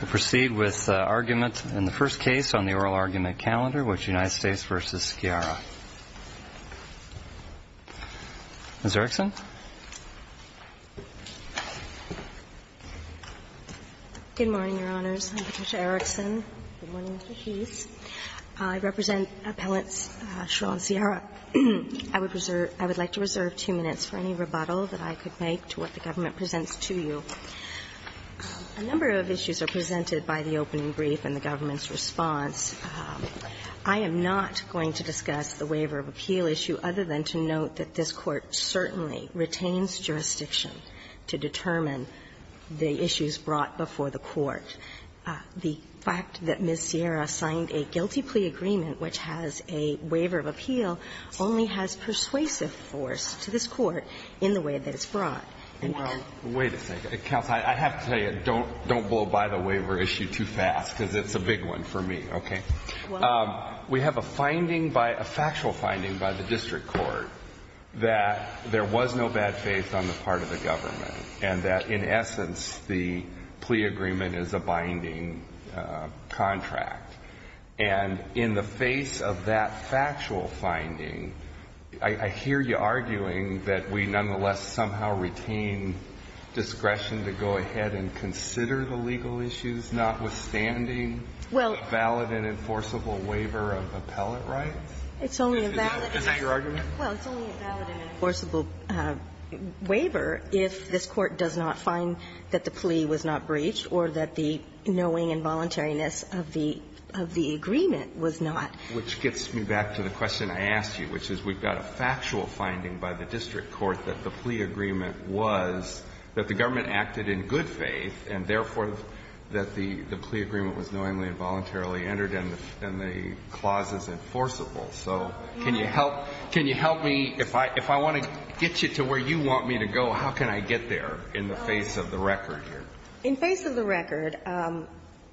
We'll proceed with argument in the first case on the oral argument calendar, which is United States v. Sciara. Ms. Erickson. Good morning, Your Honors. I'm Patricia Erickson. Good morning, Mr. Heath. I represent Appellants Schirra and Sciara. I would like to reserve two minutes for any rebuttal that I could make to what the government presents to you. A number of issues are presented by the opening brief and the government's response. I am not going to discuss the waiver of appeal issue, other than to note that this Court certainly retains jurisdiction to determine the issues brought before the Court. The fact that Ms. Sciara signed a guilty plea agreement which has a waiver of appeal only has persuasive force to this Court in the way that it's brought. Wait a second. Counsel, I have to tell you, don't blow by the waiver issue too fast, because it's a big one for me, okay? We have a finding, a factual finding, by the District Court that there was no bad faith on the part of the government and that, in essence, the plea agreement is a binding contract. And in the face of that factual finding, I hear you arguing that we nonetheless somehow retain discretion to go ahead and consider the legal issues, notwithstanding a valid and enforceable waiver of appellate rights? Is that your argument? Well, it's only a valid and enforceable waiver if this Court does not find that the plea was not breached or that the knowing involuntariness of the agreement was not. Which gets me back to the question I asked you, which is we've got a factual finding by the District Court that the plea agreement was that the government acted in good faith and, therefore, that the plea agreement was knowingly involuntarily entered and the clause is enforceable. So can you help me? If I want to get you to where you want me to go, how can I get there in the face of the record here? In face of the record,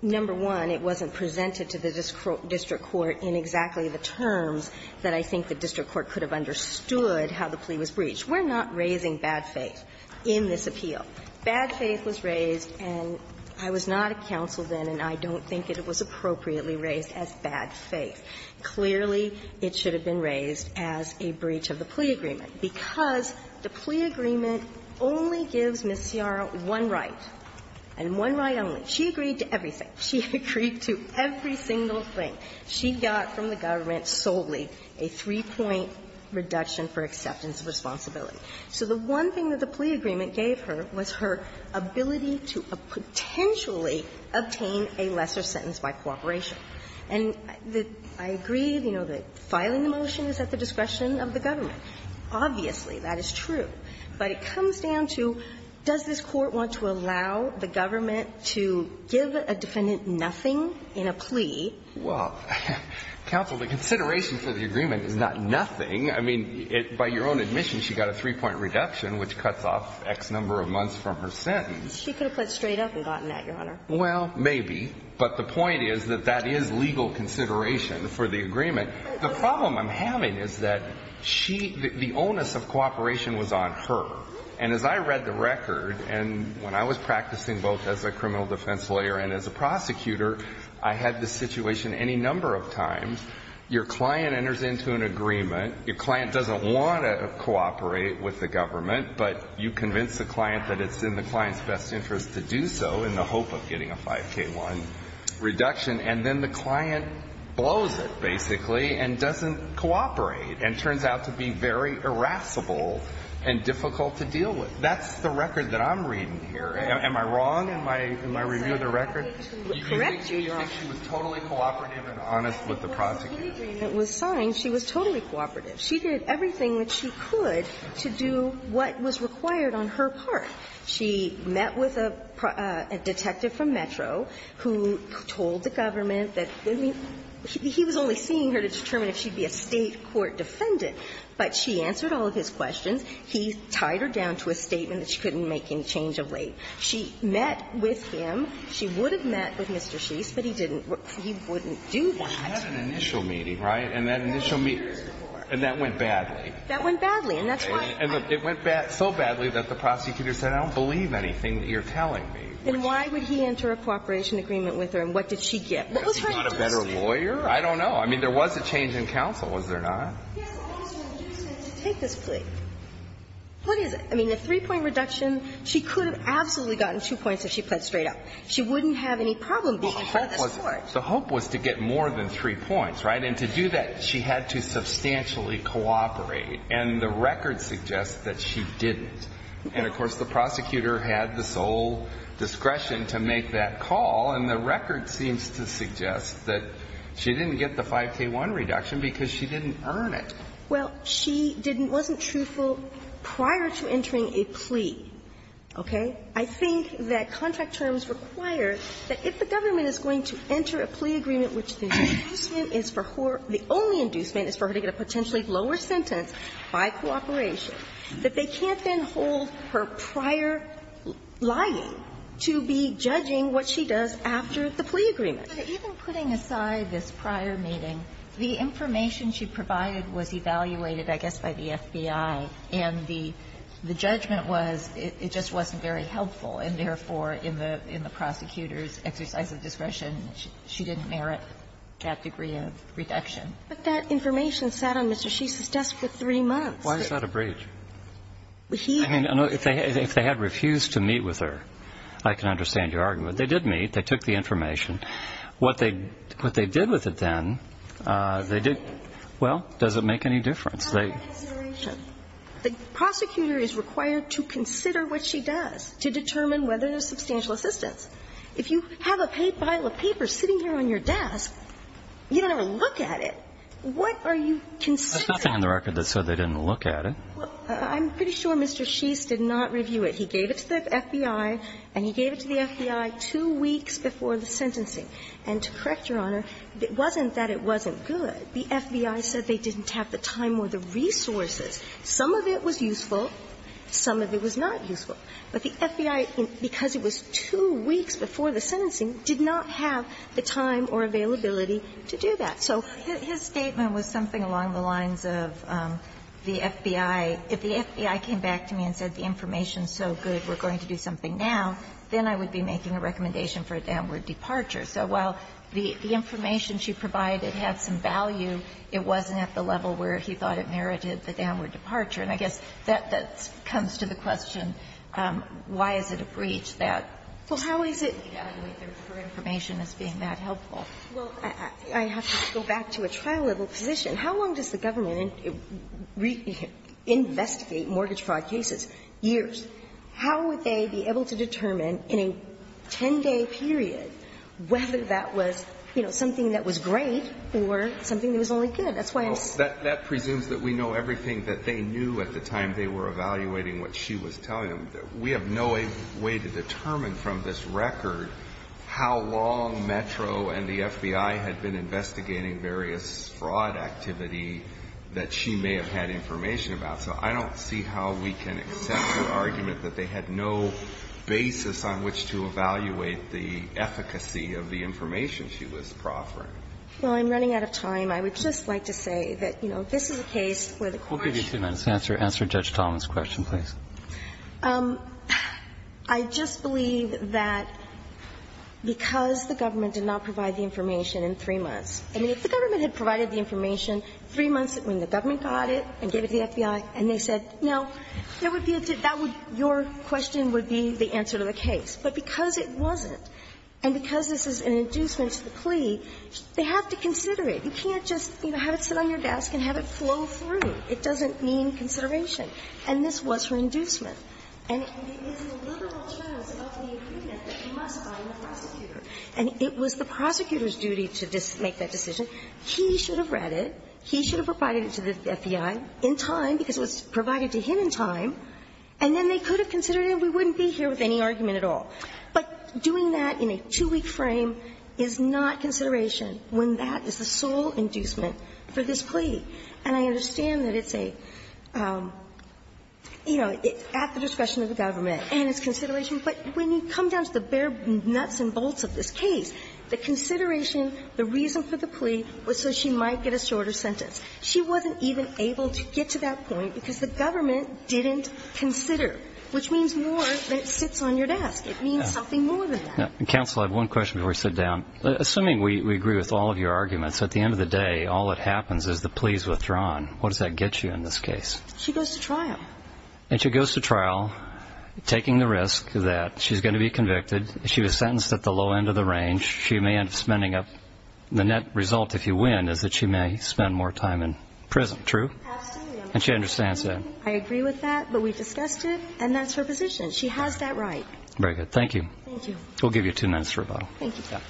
number one, it wasn't presented to the District Court in exactly the terms that I think the District Court could have understood how the plea was breached. We're not raising bad faith in this appeal. Bad faith was raised, and I was not a counsel then, and I don't think it was appropriately raised as bad faith. Clearly, it should have been raised as a breach of the plea agreement, because the plea agreement only gives Ms. Sciarra one right, and one right only. She agreed to everything. She agreed to every single thing. She got from the government solely a three-point reduction for acceptance of responsibility. So the one thing that the plea agreement gave her was her ability to potentially obtain a lesser sentence by cooperation. And I agree, you know, that filing the motion is at the discretion of the government. Obviously, that is true, but it comes down to, does this Court want to allow the government to give a defendant nothing in a plea? Well, counsel, the consideration for the agreement is not nothing. I mean, by your own admission, she got a three-point reduction, which cuts off X number of months from her sentence. She could have put it straight up and gotten that, Your Honor. Well, maybe, but the point is that that is legal consideration for the agreement. The problem I'm having is that the onus of cooperation was on her. And as I read the record, and when I was practicing both as a criminal defense lawyer and as a defense attorney, I was told that if you cooperate with the government in a situation any number of times, your client enters into an agreement, your client doesn't want to cooperate with the government, but you convince the client that it's in the client's best interest to do so in the hope of getting a 5K1 reduction, and then the client blows it, basically, and doesn't cooperate and turns out to be very irascible and difficult to deal with. That's the record that I'm reading here. Am I wrong in my review of the record? Correct you, Your Honor. Do you think she was totally cooperative and honest with the prosecutor? Well, the agreement was signed. She was totally cooperative. She did everything that she could to do what was required on her part. She met with a detective from Metro who told the government that he was only seeing her to determine if she'd be a State court defendant, but she answered all of his questions. He tied her down to a statement that she couldn't make any change of late. She met with him. She would have met with Mr. Sheese, but he didn't. He wouldn't do that. She had an initial meeting, right? And that initial meeting. And that went badly. That went badly. And that's why. And it went so badly that the prosecutor said, I don't believe anything that you're telling me. Then why would he enter a cooperation agreement with her, and what did she get? What was her interest? Was she not a better lawyer? I don't know. I mean, there was a change in counsel, was there not? Yes, also, you said to take this plea. What is it? I mean, the three-point reduction, she could have absolutely gotten two points if she pled straight up. She wouldn't have any problem being in this court. The hope was to get more than three points, right? And to do that, she had to substantially cooperate. And the record suggests that she didn't. And of course, the prosecutor had the sole discretion to make that call, and the record seems to suggest that she didn't get the 5k1 reduction because she didn't earn it. Well, she didn't – wasn't truthful prior to entering a plea, okay? I think that contract terms require that if the government is going to enter a plea agreement which the inducement is for her – the only inducement is for her to get a potentially lower sentence by cooperation, that they can't then hold her prior lying to be judging what she does after the plea agreement. But even putting aside this prior meeting, the information she provided was evaluated, I guess, by the FBI, and the judgment was it just wasn't very helpful, and therefore, in the prosecutor's exercise of discretion, she didn't merit that degree of reduction. But that information sat on Mr. Shisa's desk for three months. Why is that a breach? He – I mean, if they had refused to meet with her, I can understand your argument. They did meet. They took the information. What they – what they did with it then, they did – well, does it make any difference? It's not a consideration. The prosecutor is required to consider what she does to determine whether there's substantial assistance. If you have a pile of paper sitting here on your desk, you don't ever look at it. What are you considering? There's nothing on the record that said they didn't look at it. Well, I'm pretty sure Mr. Shisa did not review it. He gave it to the FBI, and he gave it to the FBI two weeks before the sentencing. And to correct Your Honor, it wasn't that it wasn't good. The FBI said they didn't have the time or the resources. Some of it was useful. Some of it was not useful. But the FBI, because it was two weeks before the sentencing, did not have the time or availability to do that. So his statement was something along the lines of the FBI – if the FBI came back to me and said the information is so good, we're going to do something now, then I would be making a recommendation for a downward departure. So while the information she provided had some value, it wasn't at the level where he thought it merited the downward departure. And I guess that comes to the question, why is it a breach that the FBI, for information, is being that helpful? Well, I have to go back to a trial-level position. How long does the government investigate mortgage fraud cases? Years. How would they be able to determine in a 10-day period whether that was, you know, something that was great or something that was only good? That's why I'm saying that. That presumes that we know everything that they knew at the time they were evaluating what she was telling them. We have no way to determine from this record how long Metro and the FBI had been involved in the activity that she may have had information about. So I don't see how we can accept the argument that they had no basis on which to evaluate the efficacy of the information she was proffering. Well, I'm running out of time. I would just like to say that, you know, if this is a case where the court is going to be able to determine whether it's a breach or not, it's not going to be a breach. I just believe that because the government did not provide the information in three months. I mean, if the government had provided the information three months when the government got it and gave it to the FBI and they said, no, there would be a debate, that would be your question would be the answer to the case. But because it wasn't, and because this is an inducement to the plea, they have to consider it. You can't just, you know, have it sit on your desk and have it flow through. It doesn't mean consideration. And this was her inducement. And it is the liberal choice of the agreement that must bind the prosecutor. And it was the prosecutor's duty to make that decision. He should have read it. He should have provided it to the FBI in time, because it was provided to him in time. And then they could have considered it and we wouldn't be here with any argument at all. But doing that in a two-week frame is not consideration when that is the sole inducement for this plea. And I understand that it's a, you know, at the discretion of the government and it's consideration. But when you come down to the bare nuts and bolts of this case, the consideration, the reason for the plea was so she might get a shorter sentence. She wasn't even able to get to that point because the government didn't consider, which means more than it sits on your desk. It means something more than that. And counsel, I have one question before we sit down. Assuming we agree with all of your arguments, at the end of the day, all that happens is the plea is withdrawn. What does that get you in this case? She goes to trial. And she goes to trial taking the risk that she's going to be convicted. She was sentenced at the low end of the range. She may end up spending up, the net result if you win is that she may spend more time in prison. True? And she understands that. I agree with that, but we discussed it and that's her position. She has that right. Very good. Thank you. Thank you. We'll give you two minutes for rebuttal. Thank you, sir.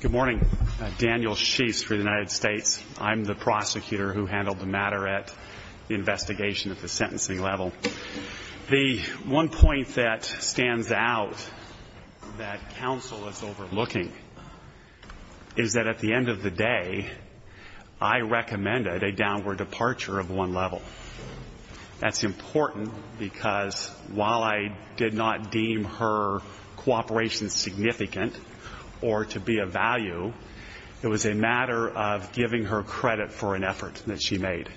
Good morning. Daniel Sheafs for the United States. I'm the prosecutor who handled the matter at the investigation at the sentencing level. The one point that stands out that counsel is overlooking is that at the end of the day, I recommended a downward departure of one level. That's important because while I did not deem her cooperation significant or to be a value, it was a matter of giving her credit for an effort that she made.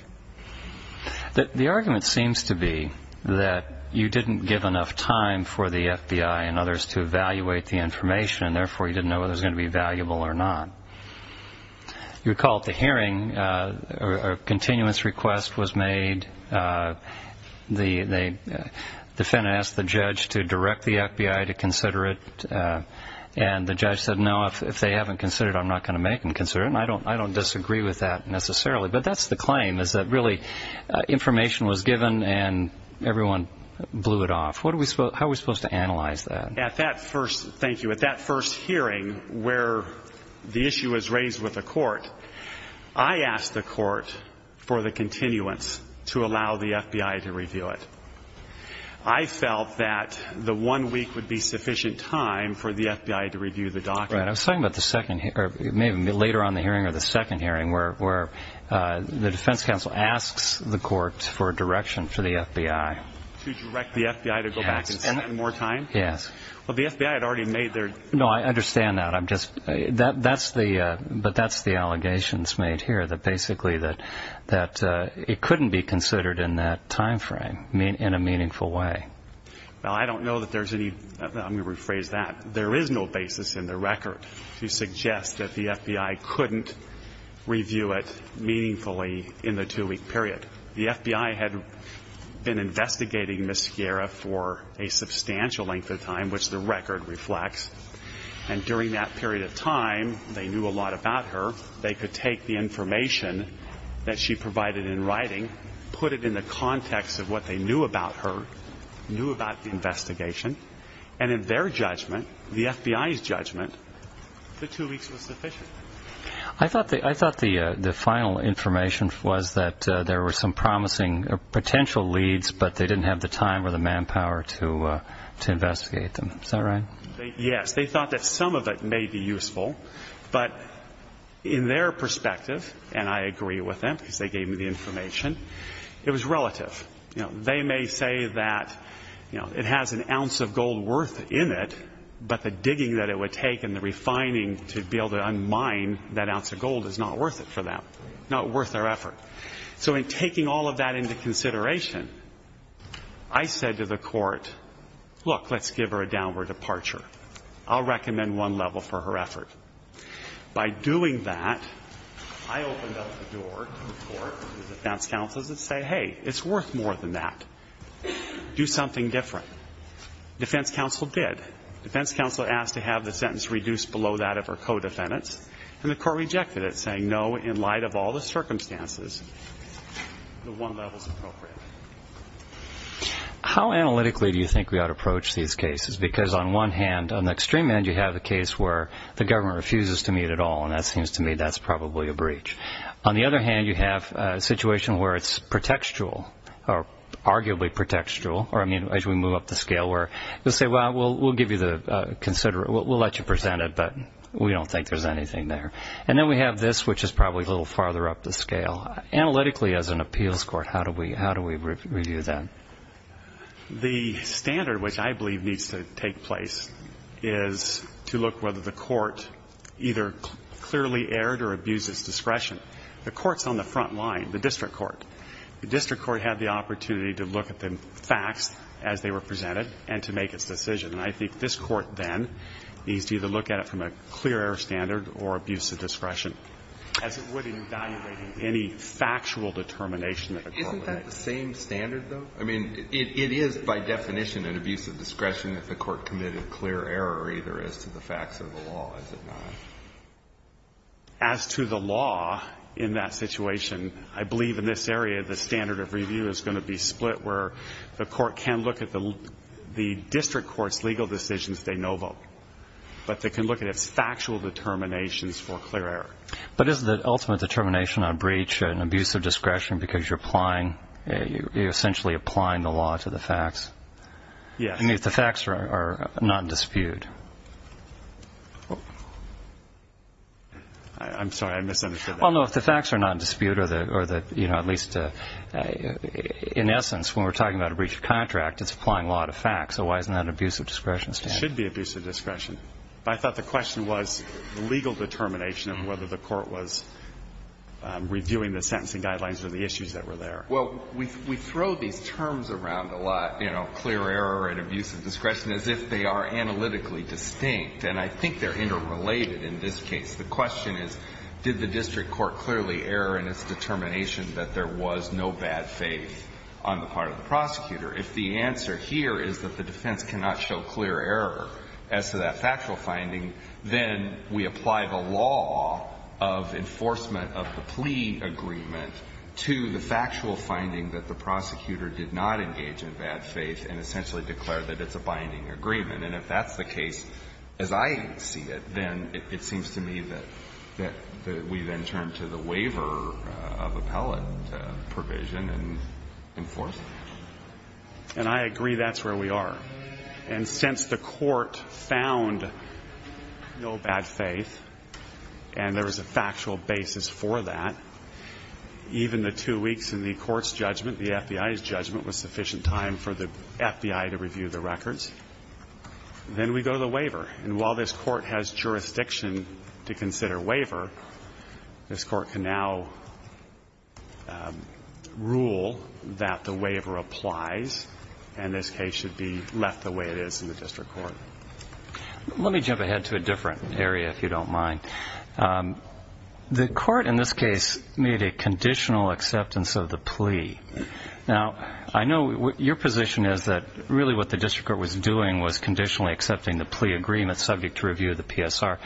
The argument seems to be that you didn't give enough time for the FBI and others to evaluate the information and therefore you didn't know whether it was going to be valuable or not. You recall at the hearing, a continuance request was made. The defendant asked the judge to direct the FBI to consider it and the judge said, no, if they haven't considered it, I'm not going to make them consider it. I don't disagree with that necessarily. But that's the claim is that really information was given and everyone blew it off. How are we supposed to analyze that? At that first hearing where the issue was raised with the court, I asked the court for the continuance to allow the FBI to review it. I felt that the one week would be sufficient time for the FBI to review the document. I was talking about later on in the hearing or the second hearing where the defense counsel asks the court for direction for the FBI. To direct the FBI to go back and spend more time? Yes. Well, the FBI had already made their... No, I understand that. I'm just... That's the... But that's the allegations made here that basically that it couldn't be considered in that time frame in a meaningful way. Well, I don't know that there's any... I'm going to rephrase that. There is no basis in the record to suggest that the FBI couldn't review it meaningfully in the two-week period. The FBI had been investigating Ms. Skierra for a substantial length of time, which the record reflects, and during that period of time they knew a lot about her. They could take the information that she provided in writing, put it in the context of what they knew about her, knew about the investigation, and in their judgment, the FBI's judgment, the two weeks was sufficient. I thought the final information was that there were some promising potential leads, but they didn't have the time or the manpower to investigate them. Is that right? Yes. They thought that some of it may be useful, but in their perspective, and I agree with them because they gave me the information, it was relative. They may say that it has an ounce of gold worth in it, but the digging that it would take and the refining to be able to unmine that ounce of gold is not worth it for them, not worth their effort. So in taking all of that into consideration, I said to the Court, look, let's give her a downward departure. I'll recommend one level for her effort. By doing that, I opened up the door to the Court and the defense counsels and said, hey, it's worth more than that. Do something different. Defense counsel did. Defense counsel asked to have the sentence reduced below that of her co-defendants, and the Court rejected it, saying, no, in light of all the circumstances, the one level is appropriate. How analytically do you think we ought to approach these cases? Because on one hand, on the extreme end, you have a case where the government refuses to meet at all, and that seems to me that's probably a breach. On the other hand, you have a situation where it's pretextual, or arguably pretextual, or, I mean, as we move up the scale, where you'll say, well, we'll let you present it, but we don't think there's anything there. And then we have this, which is probably a little farther up the scale. Analytically, as an appeals court, how do we review that? The standard, which I believe needs to take place, is to look whether the court either clearly erred or abused its discretion. The court's on the front line, the district court. The district court had the opportunity to look at the facts as they were presented and to make its decision. And I think this Court then needs to either look at it from a clear error standard or abuse of discretion, as it would in evaluating any factual determination that the court made. Isn't that the same standard, though? I mean, it is, by definition, an abuse of discretion if the court committed clear error either as to the facts or the law, is it not? As to the law in that situation, I believe in this area, the standard of review is going to be split, where the court can look at the district court's legal decisions. They know them. But they can look at its factual determinations for clear error. But is the ultimate determination on breach an abuse of discretion because you're essentially applying the law to the facts? Yes. I mean, if the facts are not disputed. I'm sorry. I misunderstood that. Well, no, if the facts are not disputed, or at least in essence, when we're talking about a breach of contract, it's applying law to facts. So why isn't that an abuse of discretion standard? It should be abuse of discretion. But I thought the question was the legal determination of whether the court was reviewing the sentencing guidelines or the issues that were there. Well, we throw these terms around a lot, you know, clear error and abuse of discretion, as if they are analytically distinct. And I think they're interrelated in this case. The question is, did the district court clearly err in its determination that there was no bad faith on the part of the prosecutor? If the answer here is that the defense cannot show clear error as to that factual finding, then we apply the law of enforcement of the plea agreement to the factual finding that the prosecutor did not engage in bad faith and essentially declared that it's a binding agreement. And if that's the case, as I see it, then it seems to me that we then turn to the waiver of appellate provision and enforce it. And I agree that's where we are. And since the court found no bad faith and there was a factual basis for that, even the two weeks in the court's judgment, the FBI's judgment, was sufficient time for the FBI to review the records. Then we go to the waiver. And while this court has jurisdiction to consider waiver, this court can now rule that the waiver applies, and this case should be left the way it is in the district court. Let me jump ahead to a different area, if you don't mind. The court in this case made a conditional acceptance of the plea. Now, I know your position is that really what the district court was doing was conditionally accepting the plea agreement subject to review of the PSR.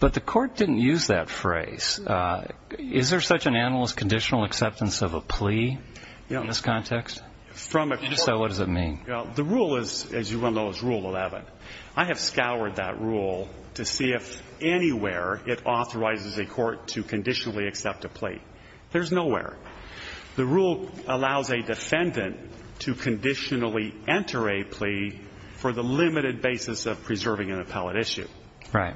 But the court didn't use that phrase. Is there such an animal as conditional acceptance of a plea in this context? If so, what does it mean? The rule is, as you well know, is Rule 11. I have scoured that rule to see if anywhere it authorizes a court to conditionally accept a plea. There's nowhere. The rule allows a defendant to conditionally enter a plea for the limited basis of preserving an appellate issue. Right.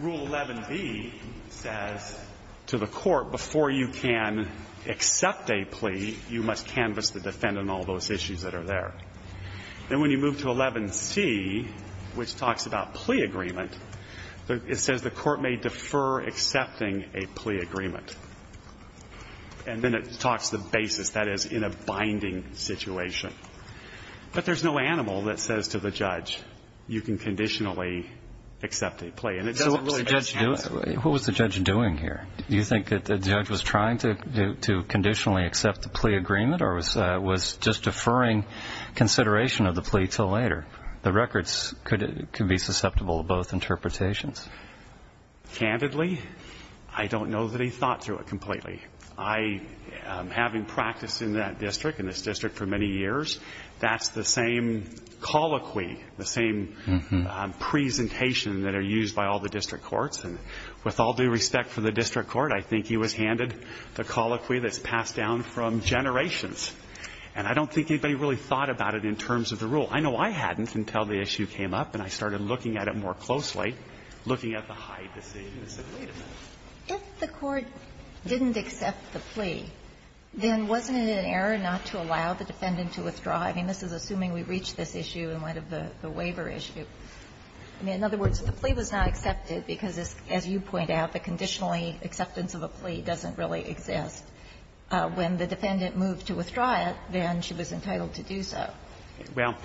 Rule 11b says to the court, before you can accept a plea, you must canvass the defendant on all those issues that are there. And when you move to 11c, which talks about plea agreement, it says the court may defer accepting a plea agreement. And then it talks the basis, that is, in a binding situation. But there's no animal that says to the judge, you can conditionally accept a plea. And it doesn't really do it. What was the judge doing here? Do you think that the judge was trying to conditionally accept the plea agreement or was just deferring consideration of the plea until later? The records could be susceptible to both interpretations. Candidly, I don't know that he thought through it completely. I, having practiced in that district, in this district for many years, that's the same colloquy, the same presentation that are used by all the district courts. And with all due respect for the district court, I think he was handed the colloquy that's passed down from generations. And I don't think anybody really thought about it in terms of the rule. I know I hadn't until the issue came up and I started looking at it more closely, looking at the Hyde decision and said, wait a minute. If the court didn't accept the plea, then wasn't it an error not to allow the defendant to withdraw? I mean, this is assuming we reach this issue in light of the waiver issue. I mean, in other words, the plea was not accepted because, as you point out, the conditionally acceptance of a plea doesn't really exist. When the defendant moved to withdraw it, then she was entitled to do so. Well,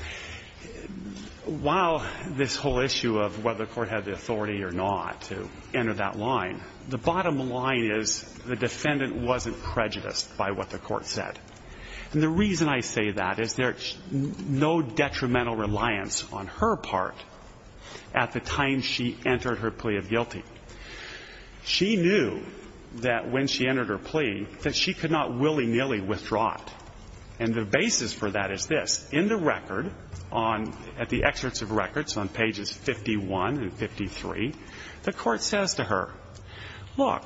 while this whole issue of whether the court had the authority or not to enter that line, the bottom line is the defendant wasn't prejudiced by what the court said. And the reason I say that is there's no detrimental reliance on her part at the time she entered her plea of guilty. She knew that when she entered her plea that she could not willy-nilly withdraw it. And the basis for that is this. In the record, at the excerpts of records on pages 51 and 53, the court says to her, look,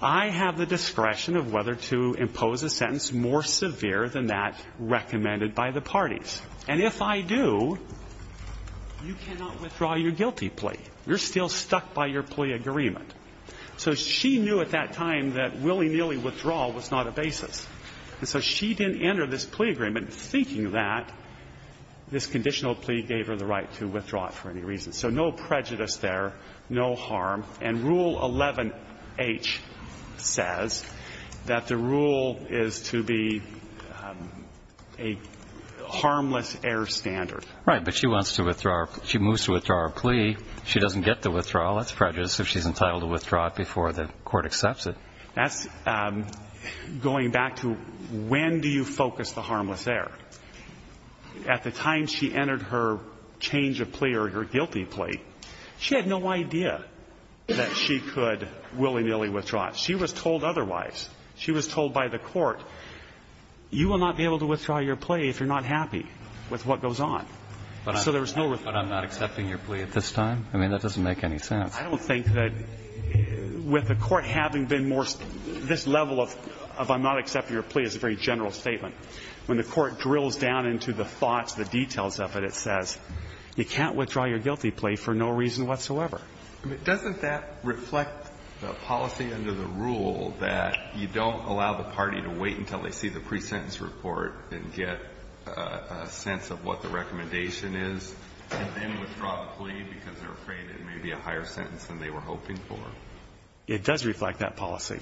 I have the discretion of whether to impose a sentence more severe than that recommended by the parties. And if I do, you cannot withdraw your guilty plea. You're still stuck by your plea agreement. So she knew at that time that willy-nilly withdrawal was not a basis. And so she didn't enter this plea agreement thinking that this conditional plea gave her the right to withdraw it for any reason. So no prejudice there, no harm. And Rule 11H says that the rule is to be a harmless error standard. But she wants to withdraw her plea. She moves to withdraw her plea. She doesn't get the withdrawal. That's prejudice if she's entitled to withdraw it before the court accepts it. That's going back to when do you focus the harmless error. At the time she entered her change of plea or her guilty plea, she had no idea that she could willy-nilly withdraw it. She was told otherwise. She was told by the court, you will not be able to withdraw your plea if you're not happy with what goes on. So there was no withdrawal. But I'm not accepting your plea at this time? I mean, that doesn't make any sense. I don't think that with the court having been more, this level of I'm not accepting your plea is a very general statement. When the court drills down into the thoughts, the details of it, it says you can't withdraw your guilty plea for no reason whatsoever. But doesn't that reflect the policy under the rule that you don't allow the party to wait until they see the pre-sentence report and get a sense of what the recommendation is and then withdraw the plea because they're afraid it may be a higher sentence than they were hoping for? It does reflect that policy.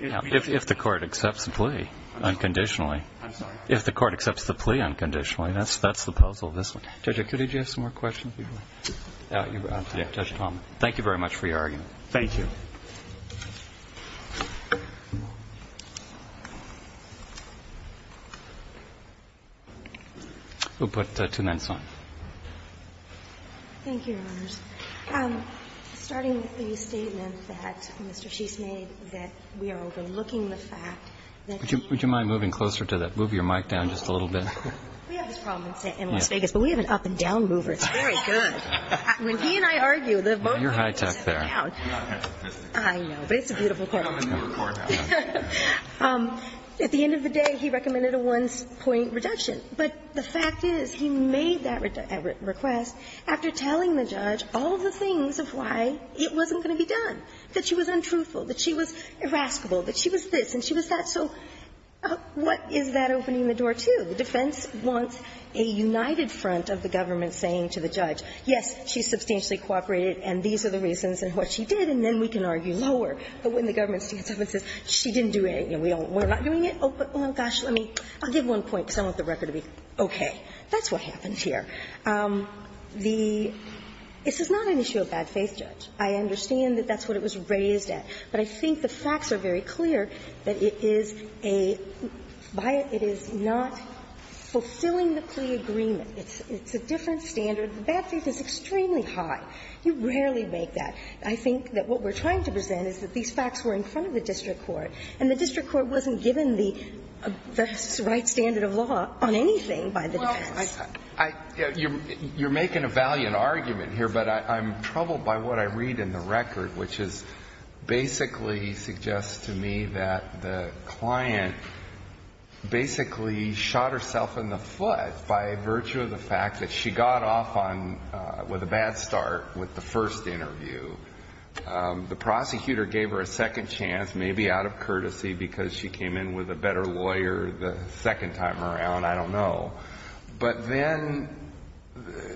If the court accepts the plea unconditionally. I'm sorry? If the court accepts the plea unconditionally. That's the puzzle of this one. Judge, did you have some more questions? Yeah. Thank you very much for your argument. Thank you. We'll put two minutes on. Thank you, Your Honors. Starting with the statement that Mr. Sheets made that we are overlooking the fact that you... Would you mind moving closer to that? Move your mic down just a little bit. We have this problem in Las Vegas, but we have an up-and-down mover. When he and I argue, the both of us sit down. You're high-tech there. I know, but it's a beautiful quote. At the end of the day, he recommended a one-point reduction. But the fact is he made that request after telling the judge all of the things of why it wasn't going to be done, that she was untruthful, that she was irascible, that she was this and she was that. So what is that opening the door to? The defense wants a united front of the government saying to the judge, yes, she substantially cooperated and these are the reasons and what she did, and then we can argue lower. But when the government stands up and says, she didn't do it, you know, we're not doing it, oh, but, oh, gosh, let me, I'll give one point because I want the record to be okay. That's what happened here. The – this is not an issue of bad faith, Judge. I understand that that's what it was raised at. But I think the facts are very clear that it is a – it is not fulfilling the plea agreement. It's a different standard. The bad faith is extremely high. You rarely make that. I think that what we're trying to present is that these facts were in front of the district court and the district court wasn't given the right standard of law on anything by the defense. Well, I – you're making a valiant argument here, but I'm troubled by what I read in the record, which is basically suggests to me that the client basically shot herself in the foot by virtue of the fact that she got off on – with a bad start with the first interview. The prosecutor gave her a second chance, maybe out of courtesy, because she came in with a better lawyer the second time around, I don't know. But then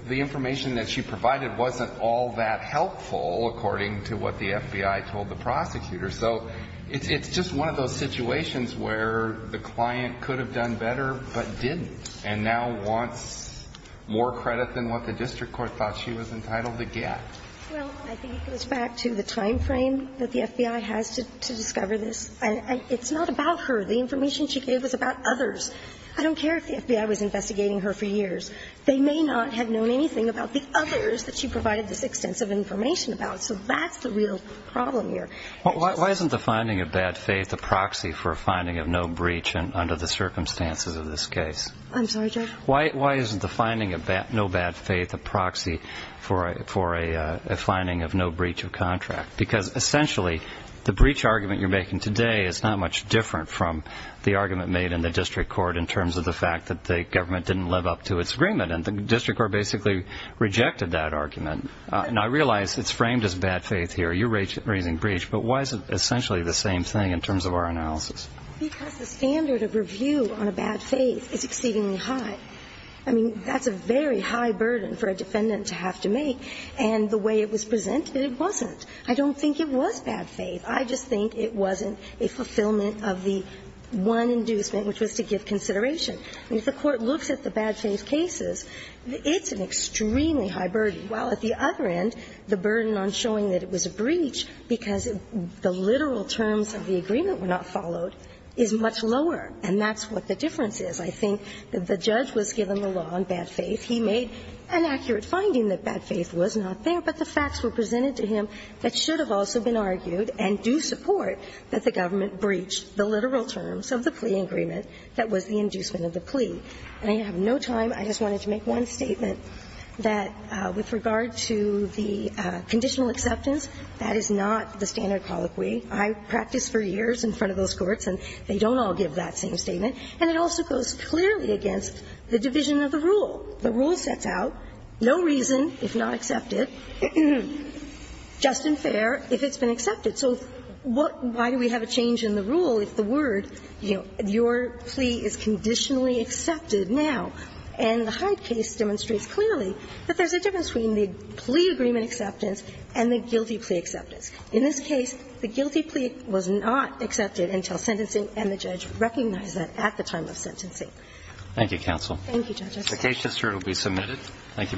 the information that she provided wasn't all that helpful, according to what the FBI told the prosecutor. So it's just one of those situations where the client could have done better but didn't and now wants more credit than what the district court thought she was entitled to get. Well, I think it goes back to the timeframe that the FBI has to discover this. It's not about her. The information she gave was about others. I don't care if the FBI was investigating her for years. They may not have known anything about the others that she provided this extensive information about. So that's the real problem here. Why isn't the finding of bad faith a proxy for a finding of no breach under the circumstances of this case? I'm sorry, Judge? Why isn't the finding of no bad faith a proxy for a finding of no breach of contract? Because essentially, the breach argument you're making today is not much different from the argument made in the district court in terms of the fact that the government didn't live up to its agreement. And the district court basically rejected that argument. And I realize it's framed as bad faith here. You're raising breach. But why is it essentially the same thing in terms of our analysis? Because the standard of review on a bad faith is exceedingly high. I mean, that's a very high burden for a defendant to have to make. And the way it was presented, it wasn't. I don't think it was bad faith. I just think it wasn't a fulfillment of the one inducement, which was to give consideration. If the Court looks at the bad faith cases, it's an extremely high burden, while at the other end, the burden on showing that it was a breach because the literal terms of the agreement were not followed is much lower. And that's what the difference is. I think that the judge was given the law on bad faith. He made an accurate finding that bad faith was not there, but the facts were presented to him that should have also been argued and do support that the government breached the literal terms of the plea agreement that was the inducement of the plea. And I have no time. I just wanted to make one statement that with regard to the conditional acceptance, that is not the standard colloquy. I practiced for years in front of those courts, and they don't all give that same statement. And it also goes clearly against the division of the rule. The rule sets out no reason, if not accepted, just and fair, if it's been accepted. So what – why do we have a change in the rule if the word, you know, your plea is conditionally accepted now? And the Hyde case demonstrates clearly that there's a difference between the plea agreement acceptance and the guilty plea acceptance. In this case, the guilty plea was not accepted until sentencing, and the judge recognized that at the time of sentencing. Thank you, counsel. Thank you, Justice. The case just heard will be submitted.